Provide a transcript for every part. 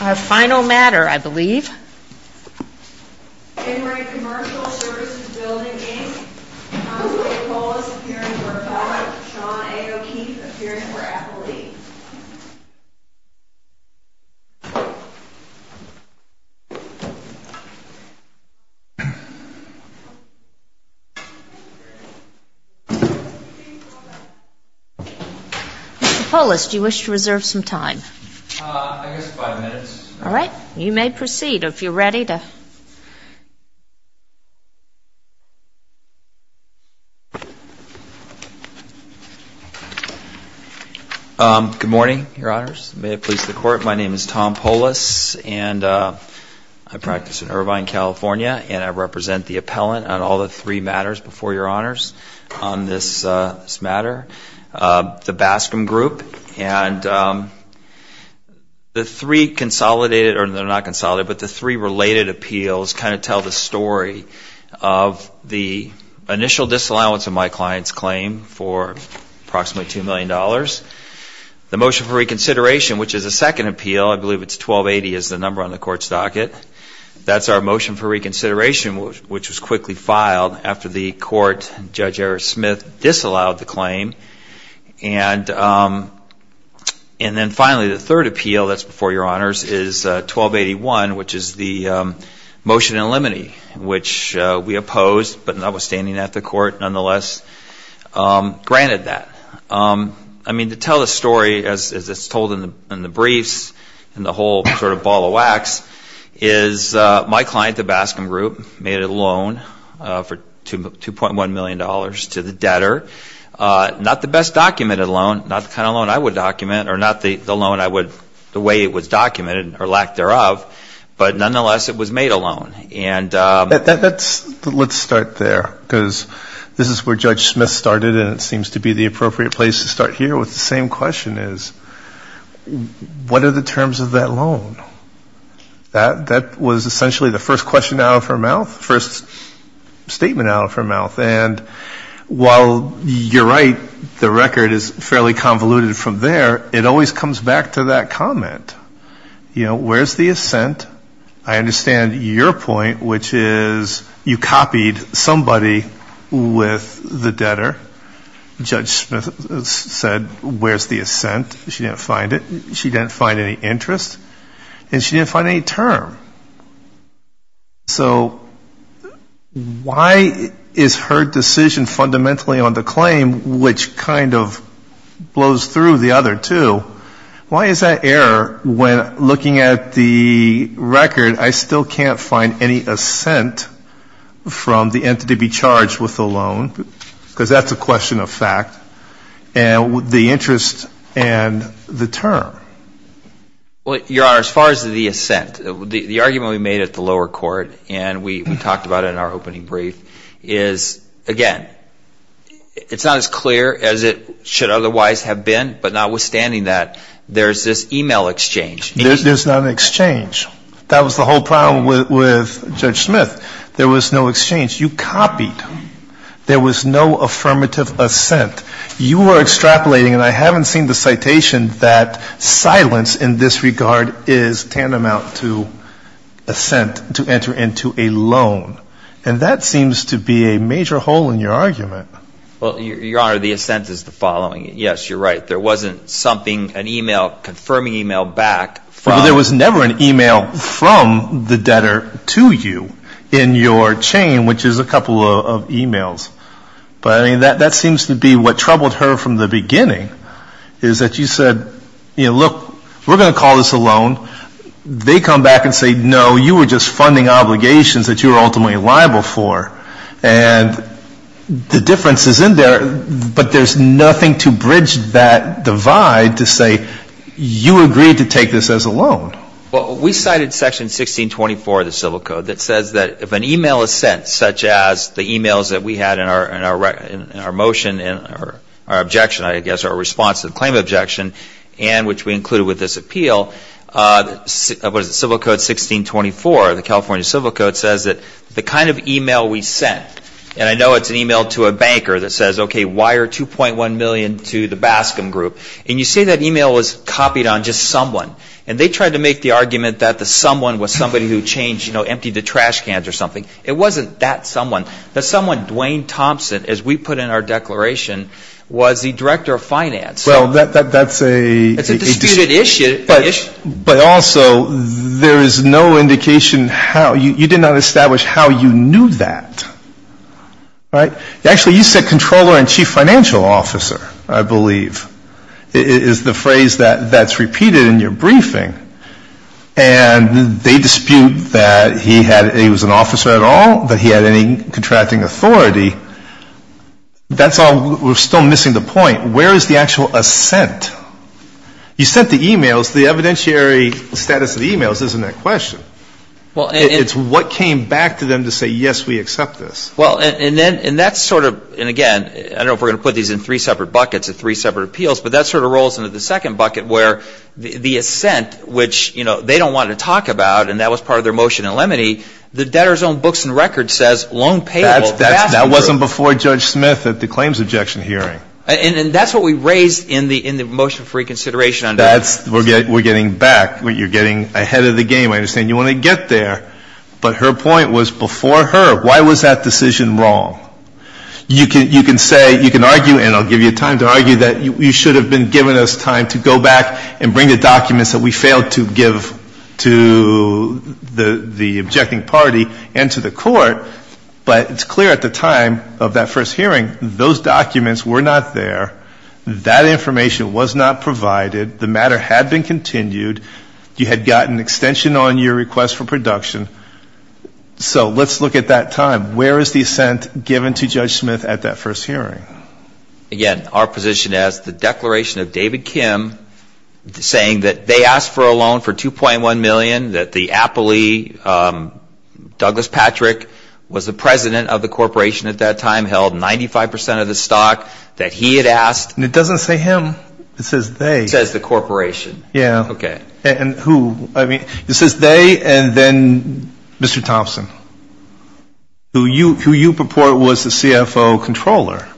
Our final matter, I believe. In re. COMMERCIAL SERVICES BUILDING, INC., Councilor Polis, appearing to report, Sean A. O'Keefe, appearing for appellee. Mr. Polis, do you wish to reserve some time? I guess five minutes. All right. You may proceed if you're ready to... Good morning, Your Honors. May it please the Court, my name is Tom Polis, and I practice in Irvine, California, and I represent the appellant on all the three matters before Your Honors on this matter. The Baskin group, and the three consolidated, or they're not consolidated, but the three related appeals kind of tell the story of the initial disallowance of my client's claim for approximately $2 million. The motion for reconsideration, which is a second appeal, I believe it's 1280 is the number on the Court's docket. That's our motion for reconsideration, which was quickly filed after the Court, Judge Eric Smith, disallowed the claim. And then finally, the third appeal that's before Your Honors is 1281, which is the motion in limine, which we opposed, but notwithstanding that, the Court nonetheless granted that. I mean, to tell the story as it's told in the briefs and the whole sort of ball of wax, is my client, the Baskin group, made a loan for $2.1 million to the debtor. Not the best documented loan, not the kind of loan I would document, or not the loan I would, the way it was documented, or lack thereof, but nonetheless it was made a loan. Let's start there, because this is where Judge Smith started, and it seems to be the appropriate place to start here with the same question is, what are the terms of that loan? That was essentially the first question out of her mouth, first statement out of her mouth. And while you're right, the record is fairly convoluted from there, it always comes back to that comment. You know, where's the assent? I understand your point, which is you copied somebody with the debtor. Judge Smith said, where's the assent? She didn't find it. She didn't find any interest, and she didn't find any term. So why is her decision fundamentally on the claim, which kind of blows through the other two, why is that error when looking at the record, I still can't find any assent from the entity to be charged with the loan, because that's a question of fact. And the interest and the term. Well, Your Honor, as far as the assent, the argument we made at the lower court, and we talked about it in our opening brief, is, again, it's not as clear as it should otherwise have been, but notwithstanding that, there's this e-mail exchange. There's not an exchange. That was the whole problem with Judge Smith. There was no exchange. You copied. There was no affirmative assent. You are extrapolating, and I haven't seen the citation, that silence in this regard is tantamount to assent to enter into a loan. And that seems to be a major hole in your argument. Well, Your Honor, the assent is the following. Yes, you're right. There wasn't something, an e-mail, confirming e-mail back from the debtor. There was never an e-mail from the debtor to you in your chain, which is a couple of e-mails. But, I mean, that seems to be what troubled her from the beginning, is that you said, you know, look, we're going to call this a loan. They come back and say, no, you were just funding obligations that you were ultimately liable for. And the difference is in there, but there's nothing to bridge that divide to say you agreed to take this as a loan. Well, we cited Section 1624 of the Civil Code that says that if an e-mail is sent, such as the e-mails that we had in our motion and our objection, I guess, our response to the claim of objection, and which we included with this appeal, what is it, Civil Code 1624, the California Civil Code, says that the kind of e-mail we sent, and I know it's an e-mail to a banker that says, okay, wire $2.1 million to the Bascom Group. And you say that e-mail was copied on just someone. And they tried to make the argument that the someone was somebody who changed, you know, emptied the trash cans or something. It wasn't that someone. The someone, Dwayne Thompson, as we put in our declaration, was the director of finance. Well, that's a. It's a disputed issue. But also, there is no indication how. You did not establish how you knew that. Right? Actually, you said controller and chief financial officer, I believe, is the phrase that's repeated in your briefing. And they dispute that he was an officer at all, that he had any contracting authority. That's all. We're still missing the point. Where is the actual assent? You sent the e-mails. The evidentiary status of the e-mails isn't that question. It's what came back to them to say, yes, we accept this. Well, and that's sort of, and again, I don't know if we're going to put these in three separate buckets, three separate appeals, but that sort of rolls into the second bucket where the assent, which they don't want to talk about, and that was part of their motion in Lemony, the debtor's own books and records says loan payable. That wasn't before Judge Smith at the claims objection hearing. And that's what we raised in the motion for reconsideration. We're getting back. You're getting ahead of the game, I understand. You want to get there. But her point was before her. Why was that decision wrong? You can say, you can argue, and I'll give you time to argue that you should have been given us time to go back and bring the documents that we failed to give to the objecting party and to the court, but it's clear at the time of that first hearing those documents were not there. That information was not provided. The matter had been continued. You had gotten extension on your request for production. So let's look at that time. Where is the assent given to Judge Smith at that first hearing? Again, our position is the declaration of David Kim saying that they asked for a loan for $2.1 million, that the appellee, Douglas Patrick, was the president of the corporation at that time, held 95% of the stock, that he had asked. It doesn't say him. It says they. It says the corporation. Yeah. Okay. And who? I mean, it says they and then Mr. Thompson, who you purport was the CFO controller.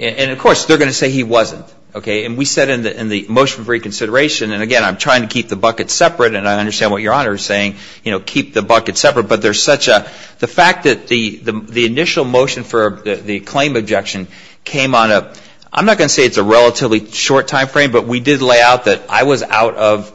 And, of course, they're going to say he wasn't. Okay? And we said in the motion for reconsideration, and, again, I'm trying to keep the bucket separate, and I understand what Your Honor is saying, you know, keep the bucket separate, but there's such a, the fact that the initial motion for the claim objection came on a, I'm not going to say it's a relatively short timeframe, but we did lay out that I was out of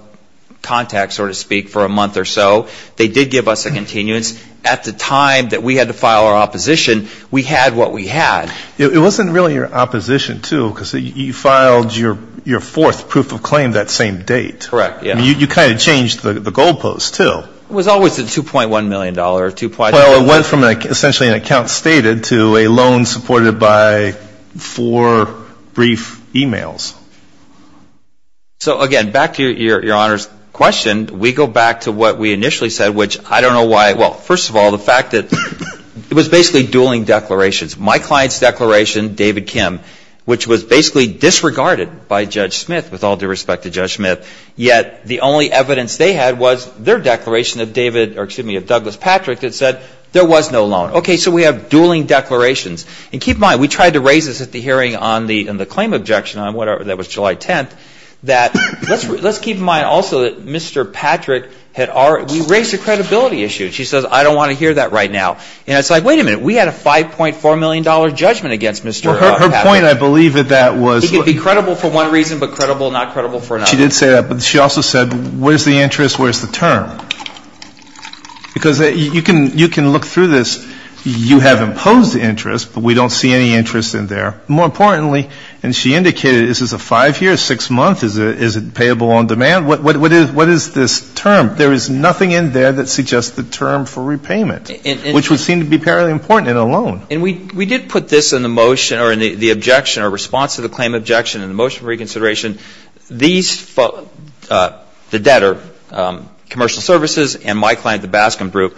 contact, so to speak, for a month or so. They did give us a continuance. At the time that we had to file our opposition, we had what we had. It wasn't really your opposition, too, because you filed your fourth proof of claim that same date. Correct. You kind of changed the goalposts, too. It was always the $2.1 million. Well, it went from essentially an account stated to a loan supported by four brief e-mails. So, again, back to Your Honor's question, we go back to what we initially said, which I don't know why, well, first of all, the fact that it was basically dueling declarations. My client's declaration, David Kim, which was basically disregarded by Judge Smith, with all due respect to Judge Smith, yet the only evidence they had was their declaration of David, or excuse me, of Douglas Patrick that said there was no loan. Okay, so we have dueling declarations. And keep in mind, we tried to raise this at the hearing on the claim objection on whatever, that was July 10th, that let's keep in mind also that Mr. Patrick had already, we raised a credibility issue. She says, I don't want to hear that right now. And it's like, wait a minute, we had a $5.4 million judgment against Mr. Her point, I believe, at that was. He could be credible for one reason, but credible, not credible for another. She did say that, but she also said, where's the interest, where's the term? Because you can look through this. You have imposed interest, but we don't see any interest in there. More importantly, and she indicated, is this a 5-year, 6-month, is it payable on demand? What is this term? There is nothing in there that suggests the term for repayment, which would seem to be fairly important in a loan. And we did put this in the motion or in the objection or response to the claim objection in the motion for reconsideration. These folks, the debtor, commercial services and my client, the Baskin Group,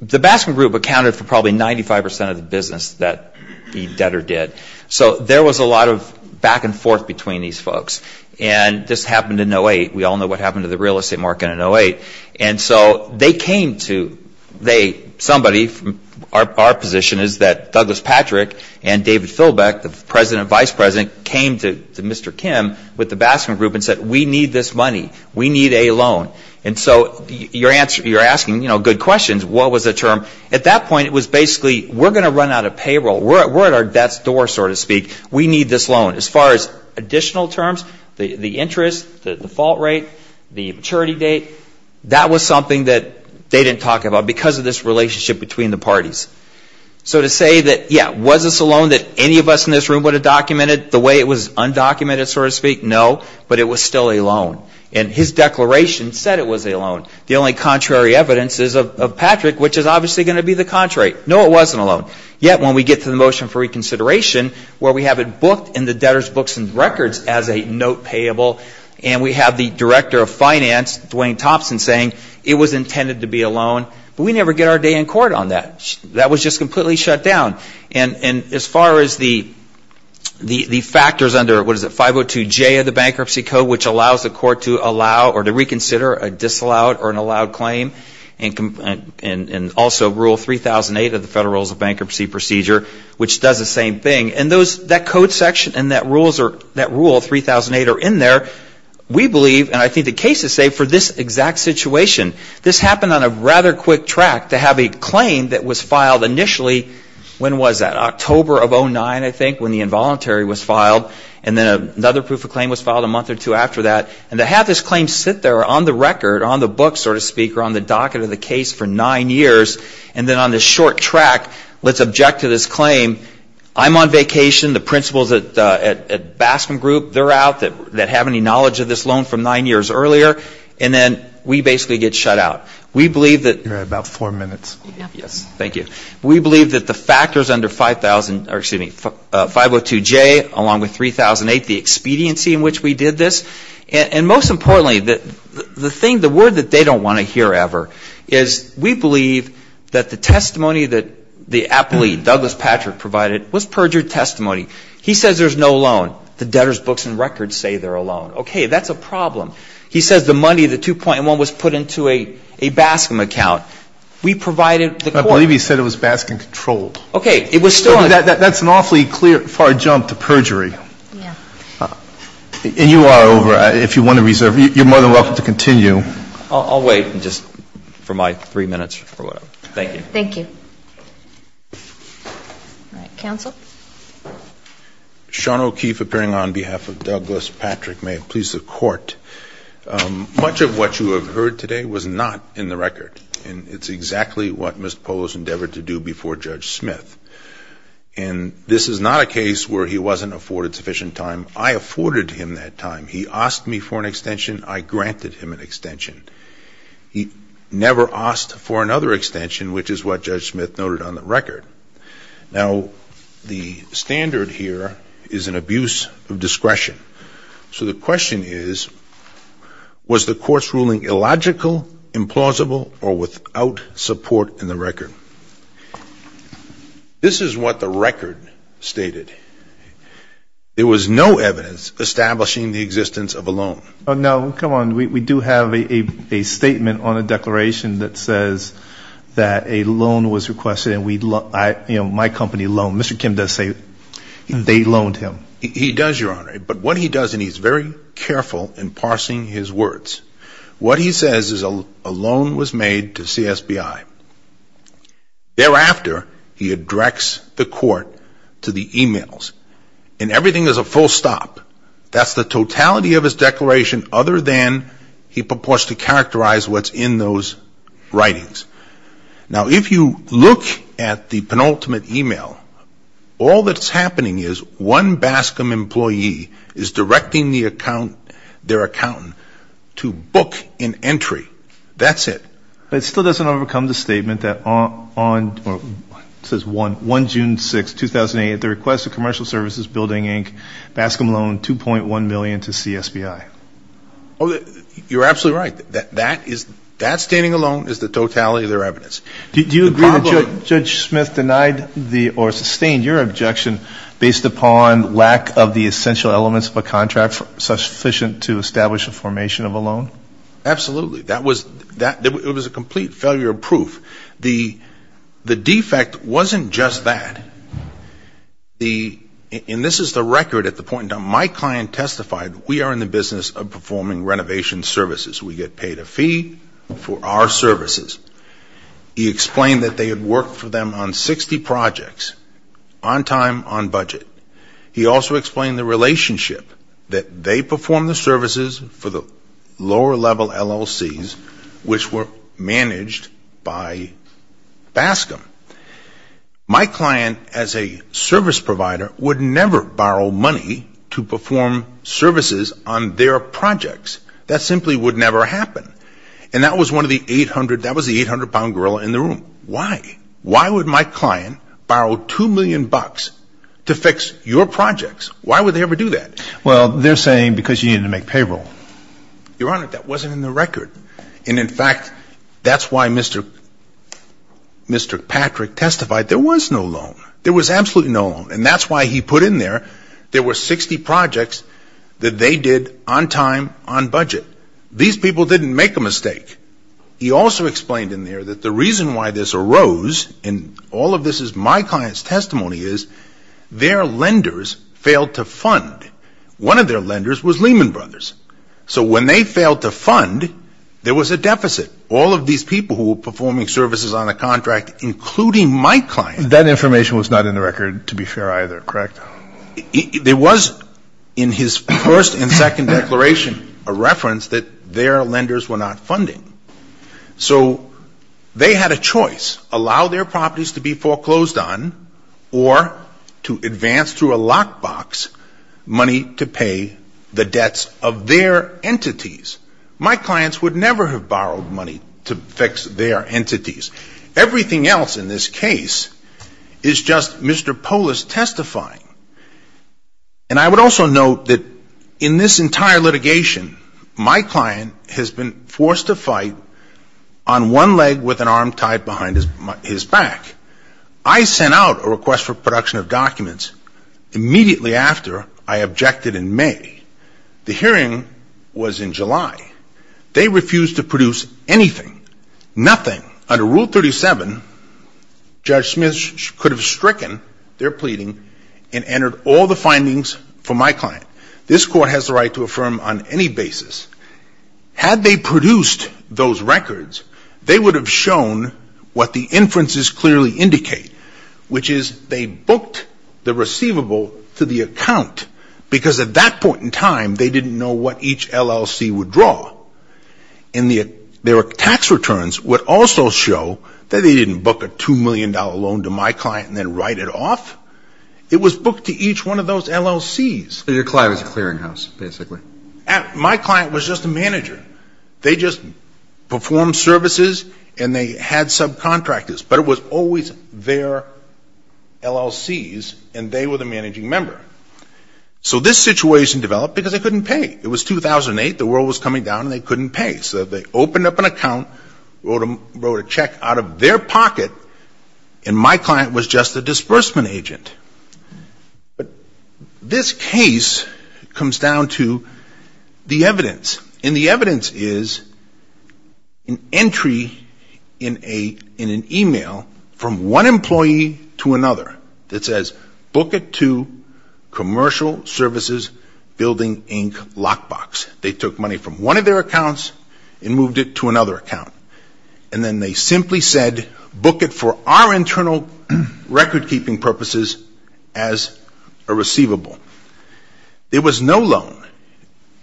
the Baskin Group accounted for probably 95% of the business that the debtor did. So there was a lot of back and forth between these folks. And this happened in 2008. We all know what happened to the real estate market in 2008. And so they came to, they, somebody, our position is that Douglas Patrick and David Philbeck, the President and Vice President, came to Mr. Kim with the Baskin Group and said, we need this money. We need a loan. And so you're asking, you know, good questions. What was the term? At that point, it was basically, we're going to run out of payroll. We're at our death's door, so to speak. We need this loan. As far as additional terms, the interest, the default rate, the maturity date, that was something that they didn't talk about because of this relationship between the parties. So to say that, yeah, was this a loan that any of us in this room would have documented the way it was undocumented, so to speak, no, but it was still a loan. And his declaration said it was a loan. The only contrary evidence is of Patrick, which is obviously going to be the contrary. No, it wasn't a loan. Yet when we get to the motion for reconsideration where we have it booked in the debtor's books and records as a note payable and we have the Director of Finance, Dwayne Thompson, saying it was intended to be a loan, but we never get our day in court on that. That was just completely shut down. And as far as the factors under, what is it, 502J of the Bankruptcy Code, which allows the court to allow or to reconsider a disallowed or an allowed claim, and also Rule 3008 of the Federal Rules of Bankruptcy Procedure, which does the same thing. And that code section and that Rule 3008 are in there. We believe, and I think the cases say, for this exact situation. This happened on a rather quick track to have a claim that was filed initially. When was that? October of 2009, I think, when the involuntary was filed. And then another proof of claim was filed a month or two after that. And to have this claim sit there on the record, on the books, so to speak, or on the docket of the case for nine years, and then on this short track, let's object to this claim. I'm on vacation. The principals at Bascom Group, they're out, that have any knowledge of this loan from nine years earlier. And then we basically get shut out. We believe that. You have about four minutes. Yes. Thank you. We believe that the factors under 5002J, along with 3008, the expediency in which we did this. And most importantly, the thing, the word that they don't want to hear ever, is we believe that the testimony that the appellee, Douglas Patrick, provided was perjured testimony. He says there's no loan. The debtor's books and records say they're a loan. Okay, that's a problem. He says the money, the 2.1, was put into a Bascom account. We provided the court. I believe he said it was Bascom controlled. Okay. It was stolen. That's an awfully clear, far jump to perjury. Yeah. And you are over. If you want to reserve, you're more than welcome to continue. I'll wait just for my three minutes or whatever. Thank you. Thank you. All right. Counsel. Sean O'Keefe, appearing on behalf of Douglas Patrick. May it please the Court. Much of what you have heard today was not in the record. And it's exactly what Mr. Polo has endeavored to do before Judge Smith. And this is not a case where he wasn't afforded sufficient time. I afforded him that time. He asked me for an extension. I granted him an extension. He never asked for another extension, which is what Judge Smith noted on the record. Now, the standard here is an abuse of discretion. So the question is, was the court's ruling illogical, implausible, or without support in the record? This is what the record stated. There was no evidence establishing the existence of a loan. Oh, no. Come on. We do have a statement on a declaration that says that a loan was requested. And, you know, my company loaned. Mr. Kim does say they loaned him. He does, Your Honor. But what he does, and he's very careful in parsing his words, what he says is a loan was made to CSBI. Thereafter, he directs the court to the emails. And everything is a full stop. That's the totality of his declaration, other than he purports to characterize what's in those writings. Now, if you look at the penultimate email, all that's happening is one Bascom employee is directing their accountant to book an entry. That's it. But it still doesn't overcome the statement that on June 6, 2008, the request of Commercial Services Building, Inc., Bascom loaned $2.1 million to CSBI. You're absolutely right. That standing alone is the totality of their evidence. Do you agree that Judge Smith denied or sustained your objection based upon lack of the essential elements of a contract sufficient to establish a formation of a loan? Absolutely. That was a complete failure of proof. The defect wasn't just that. And this is the record at the point in time. My client testified, we are in the business of performing renovation services. We get paid a fee for our services. He explained that they had worked for them on 60 projects, on time, on budget. He also explained the relationship that they performed the services for the lower-level LLCs, which were managed by Bascom. My client, as a service provider, would never borrow money to perform services on their projects. That simply would never happen. And that was one of the 800-pound gorilla in the room. Why? Why would my client borrow $2 million to fix your projects? Why would they ever do that? Well, they're saying because you needed to make payroll. Your Honor, that wasn't in the record. And, in fact, that's why Mr. Patrick testified there was no loan. There was absolutely no loan. And that's why he put in there there were 60 projects that they did on time, on budget. These people didn't make a mistake. He also explained in there that the reason why this arose, and all of this is my client's testimony, is their lenders failed to fund. One of their lenders was Lehman Brothers. So when they failed to fund, there was a deficit. All of these people who were performing services on the contract, including my client. That information was not in the record, to be fair, either, correct? There was, in his first and second declaration, a reference that their lenders were not funding. So they had a choice, allow their properties to be foreclosed on or to advance through a lockbox money to pay the debts of their entities. My clients would never have borrowed money to fix their entities. Everything else in this case is just Mr. Polis testifying. And I would also note that in this entire litigation, my client has been forced to fight on one leg with an arm tied behind his back. I sent out a request for production of documents immediately after I objected in May. The hearing was in July. They refused to produce anything, nothing. Under Rule 37, Judge Smith could have stricken their pleading and entered all the findings for my client. This court has the right to affirm on any basis. Had they produced those records, they would have shown what the inferences clearly indicate, which is they booked the receivable to the account because at that point in time they didn't know what each LLC would draw. And their tax returns would also show that they didn't book a $2 million loan to my client and then write it off. It was booked to each one of those LLCs. So your client was a clearinghouse, basically. My client was just a manager. They just performed services and they had subcontractors. But it was always their LLCs and they were the managing member. So this situation developed because they couldn't pay. It was 2008. The world was coming down and they couldn't pay. So they opened up an account, wrote a check out of their pocket, and my client was just a disbursement agent. But this case comes down to the evidence. And the evidence is an entry in an e-mail from one employee to another that says, book it to Commercial Services Building Inc. Lockbox. They took money from one of their accounts and moved it to another account. And then they simply said, book it for our internal recordkeeping purposes as a receivable. There was no loan.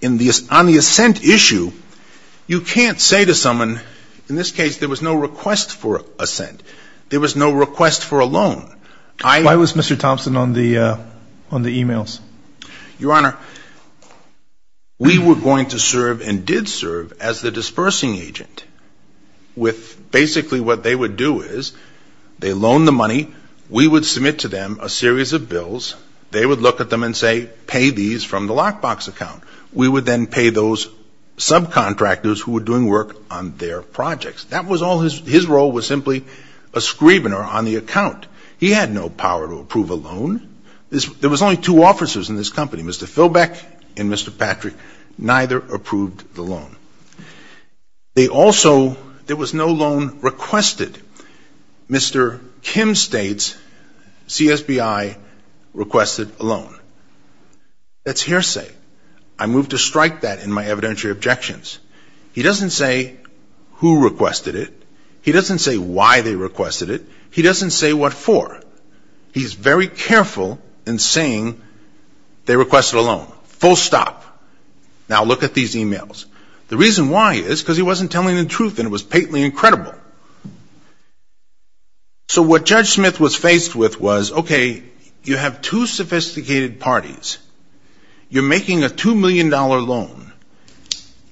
On the assent issue, you can't say to someone, in this case, there was no request for assent. There was no request for a loan. Why was Mr. Thompson on the e-mails? Your Honor, we were going to serve and did serve as the disbursing agent with basically what they would do is they loan the money. They would look at them and say, pay these from the lockbox account. We would then pay those subcontractors who were doing work on their projects. That was all his role was simply a screvener on the account. He had no power to approve a loan. There was only two officers in this company, Mr. Philbeck and Mr. Patrick. Neither approved the loan. They also, there was no loan requested. Mr. Kim states, CSBI requested a loan. That's hearsay. I move to strike that in my evidentiary objections. He doesn't say who requested it. He doesn't say why they requested it. He doesn't say what for. He's very careful in saying they requested a loan. Full stop. Now look at these e-mails. The reason why is because he wasn't telling the truth and it was patently incredible. So what Judge Smith was faced with was, okay, you have two sophisticated parties. You're making a $2 million loan.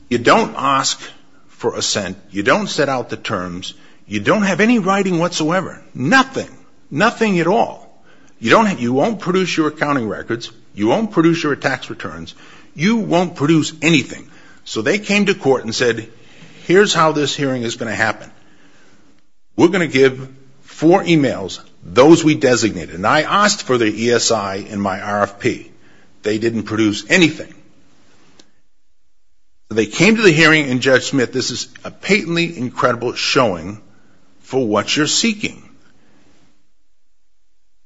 You don't ask for a cent. You don't set out the terms. You don't have any writing whatsoever. Nothing. Nothing at all. You won't produce your accounting records. You won't produce your tax returns. You won't produce anything. So they came to court and said, here's how this hearing is going to happen. We're going to give four e-mails, those we designated. And I asked for their ESI and my RFP. They didn't produce anything. They came to the hearing and, Judge Smith, this is a patently incredible showing for what you're seeking.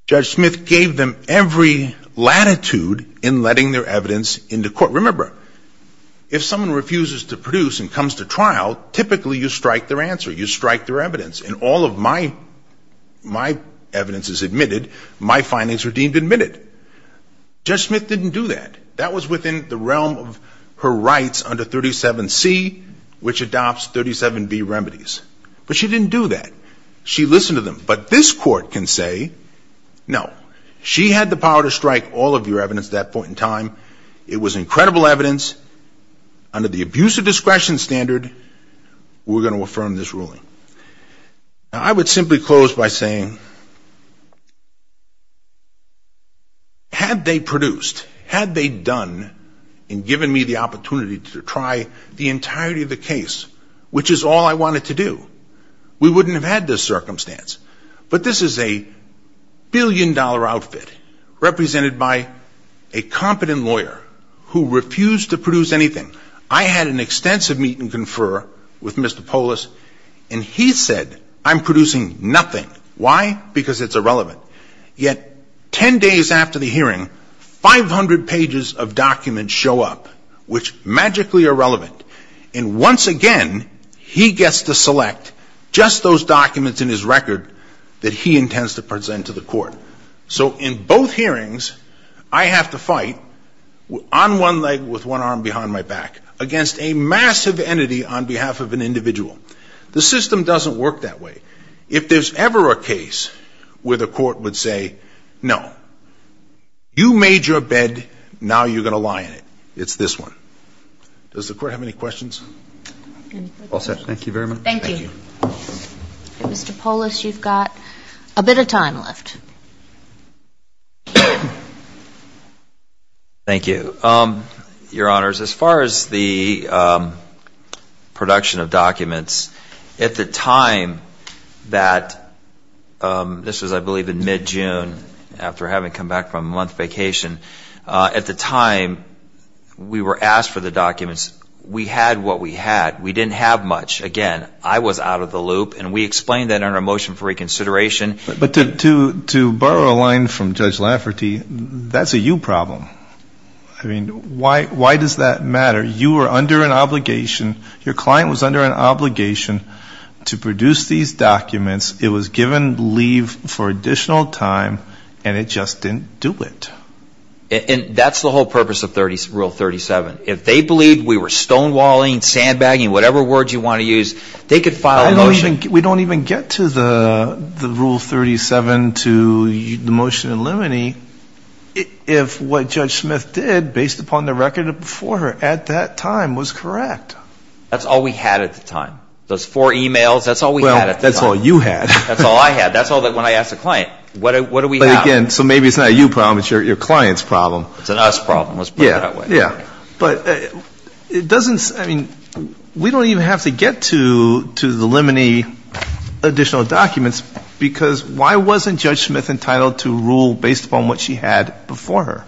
Judge Smith gave them every latitude in letting their evidence into court. Remember, if someone refuses to produce and comes to trial, typically you strike their answer. You strike their evidence. And all of my evidence is admitted. My findings are deemed admitted. Judge Smith didn't do that. That was within the realm of her rights under 37C, which adopts 37B remedies. But she didn't do that. She listened to them. But this court can say, no, she had the power to strike all of your evidence at that point in time. It was incredible evidence. Under the abuse of discretion standard, we're going to affirm this ruling. I would simply close by saying, had they produced, had they done and given me the opportunity to try the entirety of the case, which is all I wanted to do, we wouldn't have had this circumstance. But this is a billion-dollar outfit represented by a competent lawyer who refused to produce anything. I had an extensive meet and confer with Mr. Polis, and he said, I'm producing nothing. Why? Because it's irrelevant. Yet 10 days after the hearing, 500 pages of documents show up, which magically are relevant. And once again, he gets to select just those documents in his record that he intends to present to the court. So in both hearings, I have to fight on one leg with one arm behind my back against a massive entity on behalf of an individual. The system doesn't work that way. If there's ever a case where the court would say, no, you made your bed, now you're going to lie in it, it's this one. Does the court have any questions? All set. Thank you very much. Thank you. Mr. Polis, you've got a bit of time left. Thank you. Your Honors, as far as the production of documents, at the time that this was, I believe, in mid-June, after having come back from a month vacation, at the time we were asked for the documents, we had what we had. We didn't have much. Again, I was out of the loop, and we explained that in our motion for reconsideration. But to borrow a line from Judge Lafferty, that's a you problem. I mean, why does that matter? You were under an obligation, your client was under an obligation to produce these documents. It was given leave for additional time, and it just didn't do it. And that's the whole purpose of Rule 37. If they believed we were stonewalling, sandbagging, whatever words you want to use, they could file a motion. We don't even get to the Rule 37 to the motion in limine if what Judge Smith did, based upon the record before her at that time, was correct. That's all we had at the time. Those four emails, that's all we had at the time. That's all you had. That's all I had. That's all that when I asked the client. What do we have? But again, so maybe it's not a you problem, it's your client's problem. It's an us problem. Let's put it that way. Yeah. But it doesn't – I mean, we don't even have to get to the limine additional documents, because why wasn't Judge Smith entitled to rule based upon what she had before her?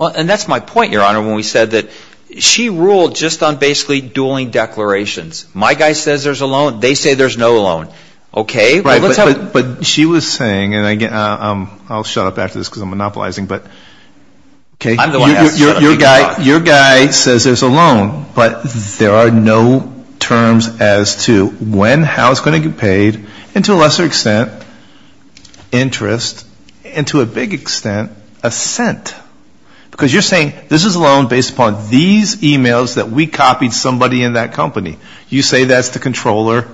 And that's my point, Your Honor, when we said that she ruled just on basically dueling declarations. My guy says there's a loan. They say there's no loan. Okay? But she was saying, and I'll shut up after this because I'm monopolizing, but your guy says there's a loan, but there are no terms as to when, how it's going to get paid, and to a lesser extent, interest, and to a big extent, a cent. Because you're saying this is a loan based upon these e-mails that we copied somebody in that company. You say that's the controller.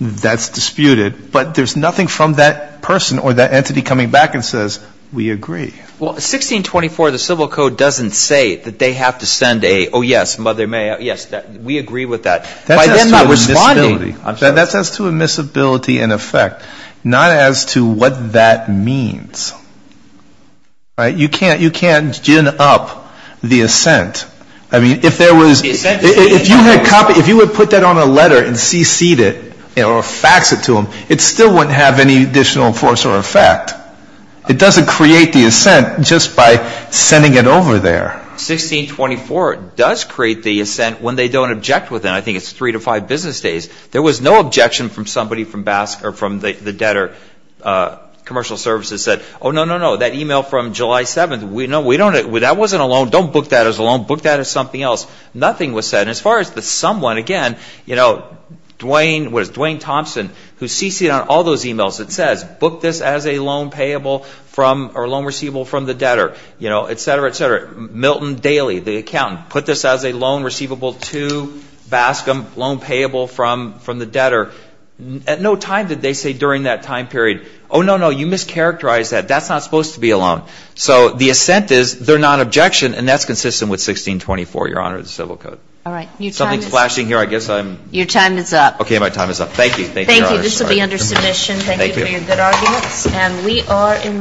That's disputed. But there's nothing from that person or that entity coming back and says, we agree. Well, 1624 of the Civil Code doesn't say that they have to send a, oh, yes, Mother May, yes, we agree with that. That's as to admissibility. That's as to admissibility in effect, not as to what that means. All right? You can't gin up the assent. I mean, if there was, if you had copied, if you had put that on a letter and CC'd it or faxed it to them, it still wouldn't have any additional force or effect. It doesn't create the assent just by sending it over there. 1624 does create the assent when they don't object with it. I think it's three to five business days. There was no objection from somebody from BASC or from the debtor. Commercial Services said, oh, no, no, no, that e-mail from July 7th, we don't, that wasn't a loan. Don't book that as a loan. Book that as something else. Nothing was said. And as far as the someone, again, you know, Dwayne, what is it, Dwayne Thompson, who CC'd on all those e-mails, it says, book this as a loan payable from, or loan receivable from the debtor, you know, et cetera, et cetera. Milton Daly, the accountant, put this as a loan receivable to BASC, loan payable from the debtor. At no time did they say during that time period, oh, no, no, you mischaracterized that. That's not supposed to be a loan. So the assent is they're not objection, and that's consistent with 1624, Your Honor, the Civil Code. All right. Something's flashing here. I guess I'm ‑‑ Your time is up. Okay. My time is up. Thank you. Thank you, Your Honor. Thank you. This will be under submission. Thank you for your good arguments. And we are in recess. All rise.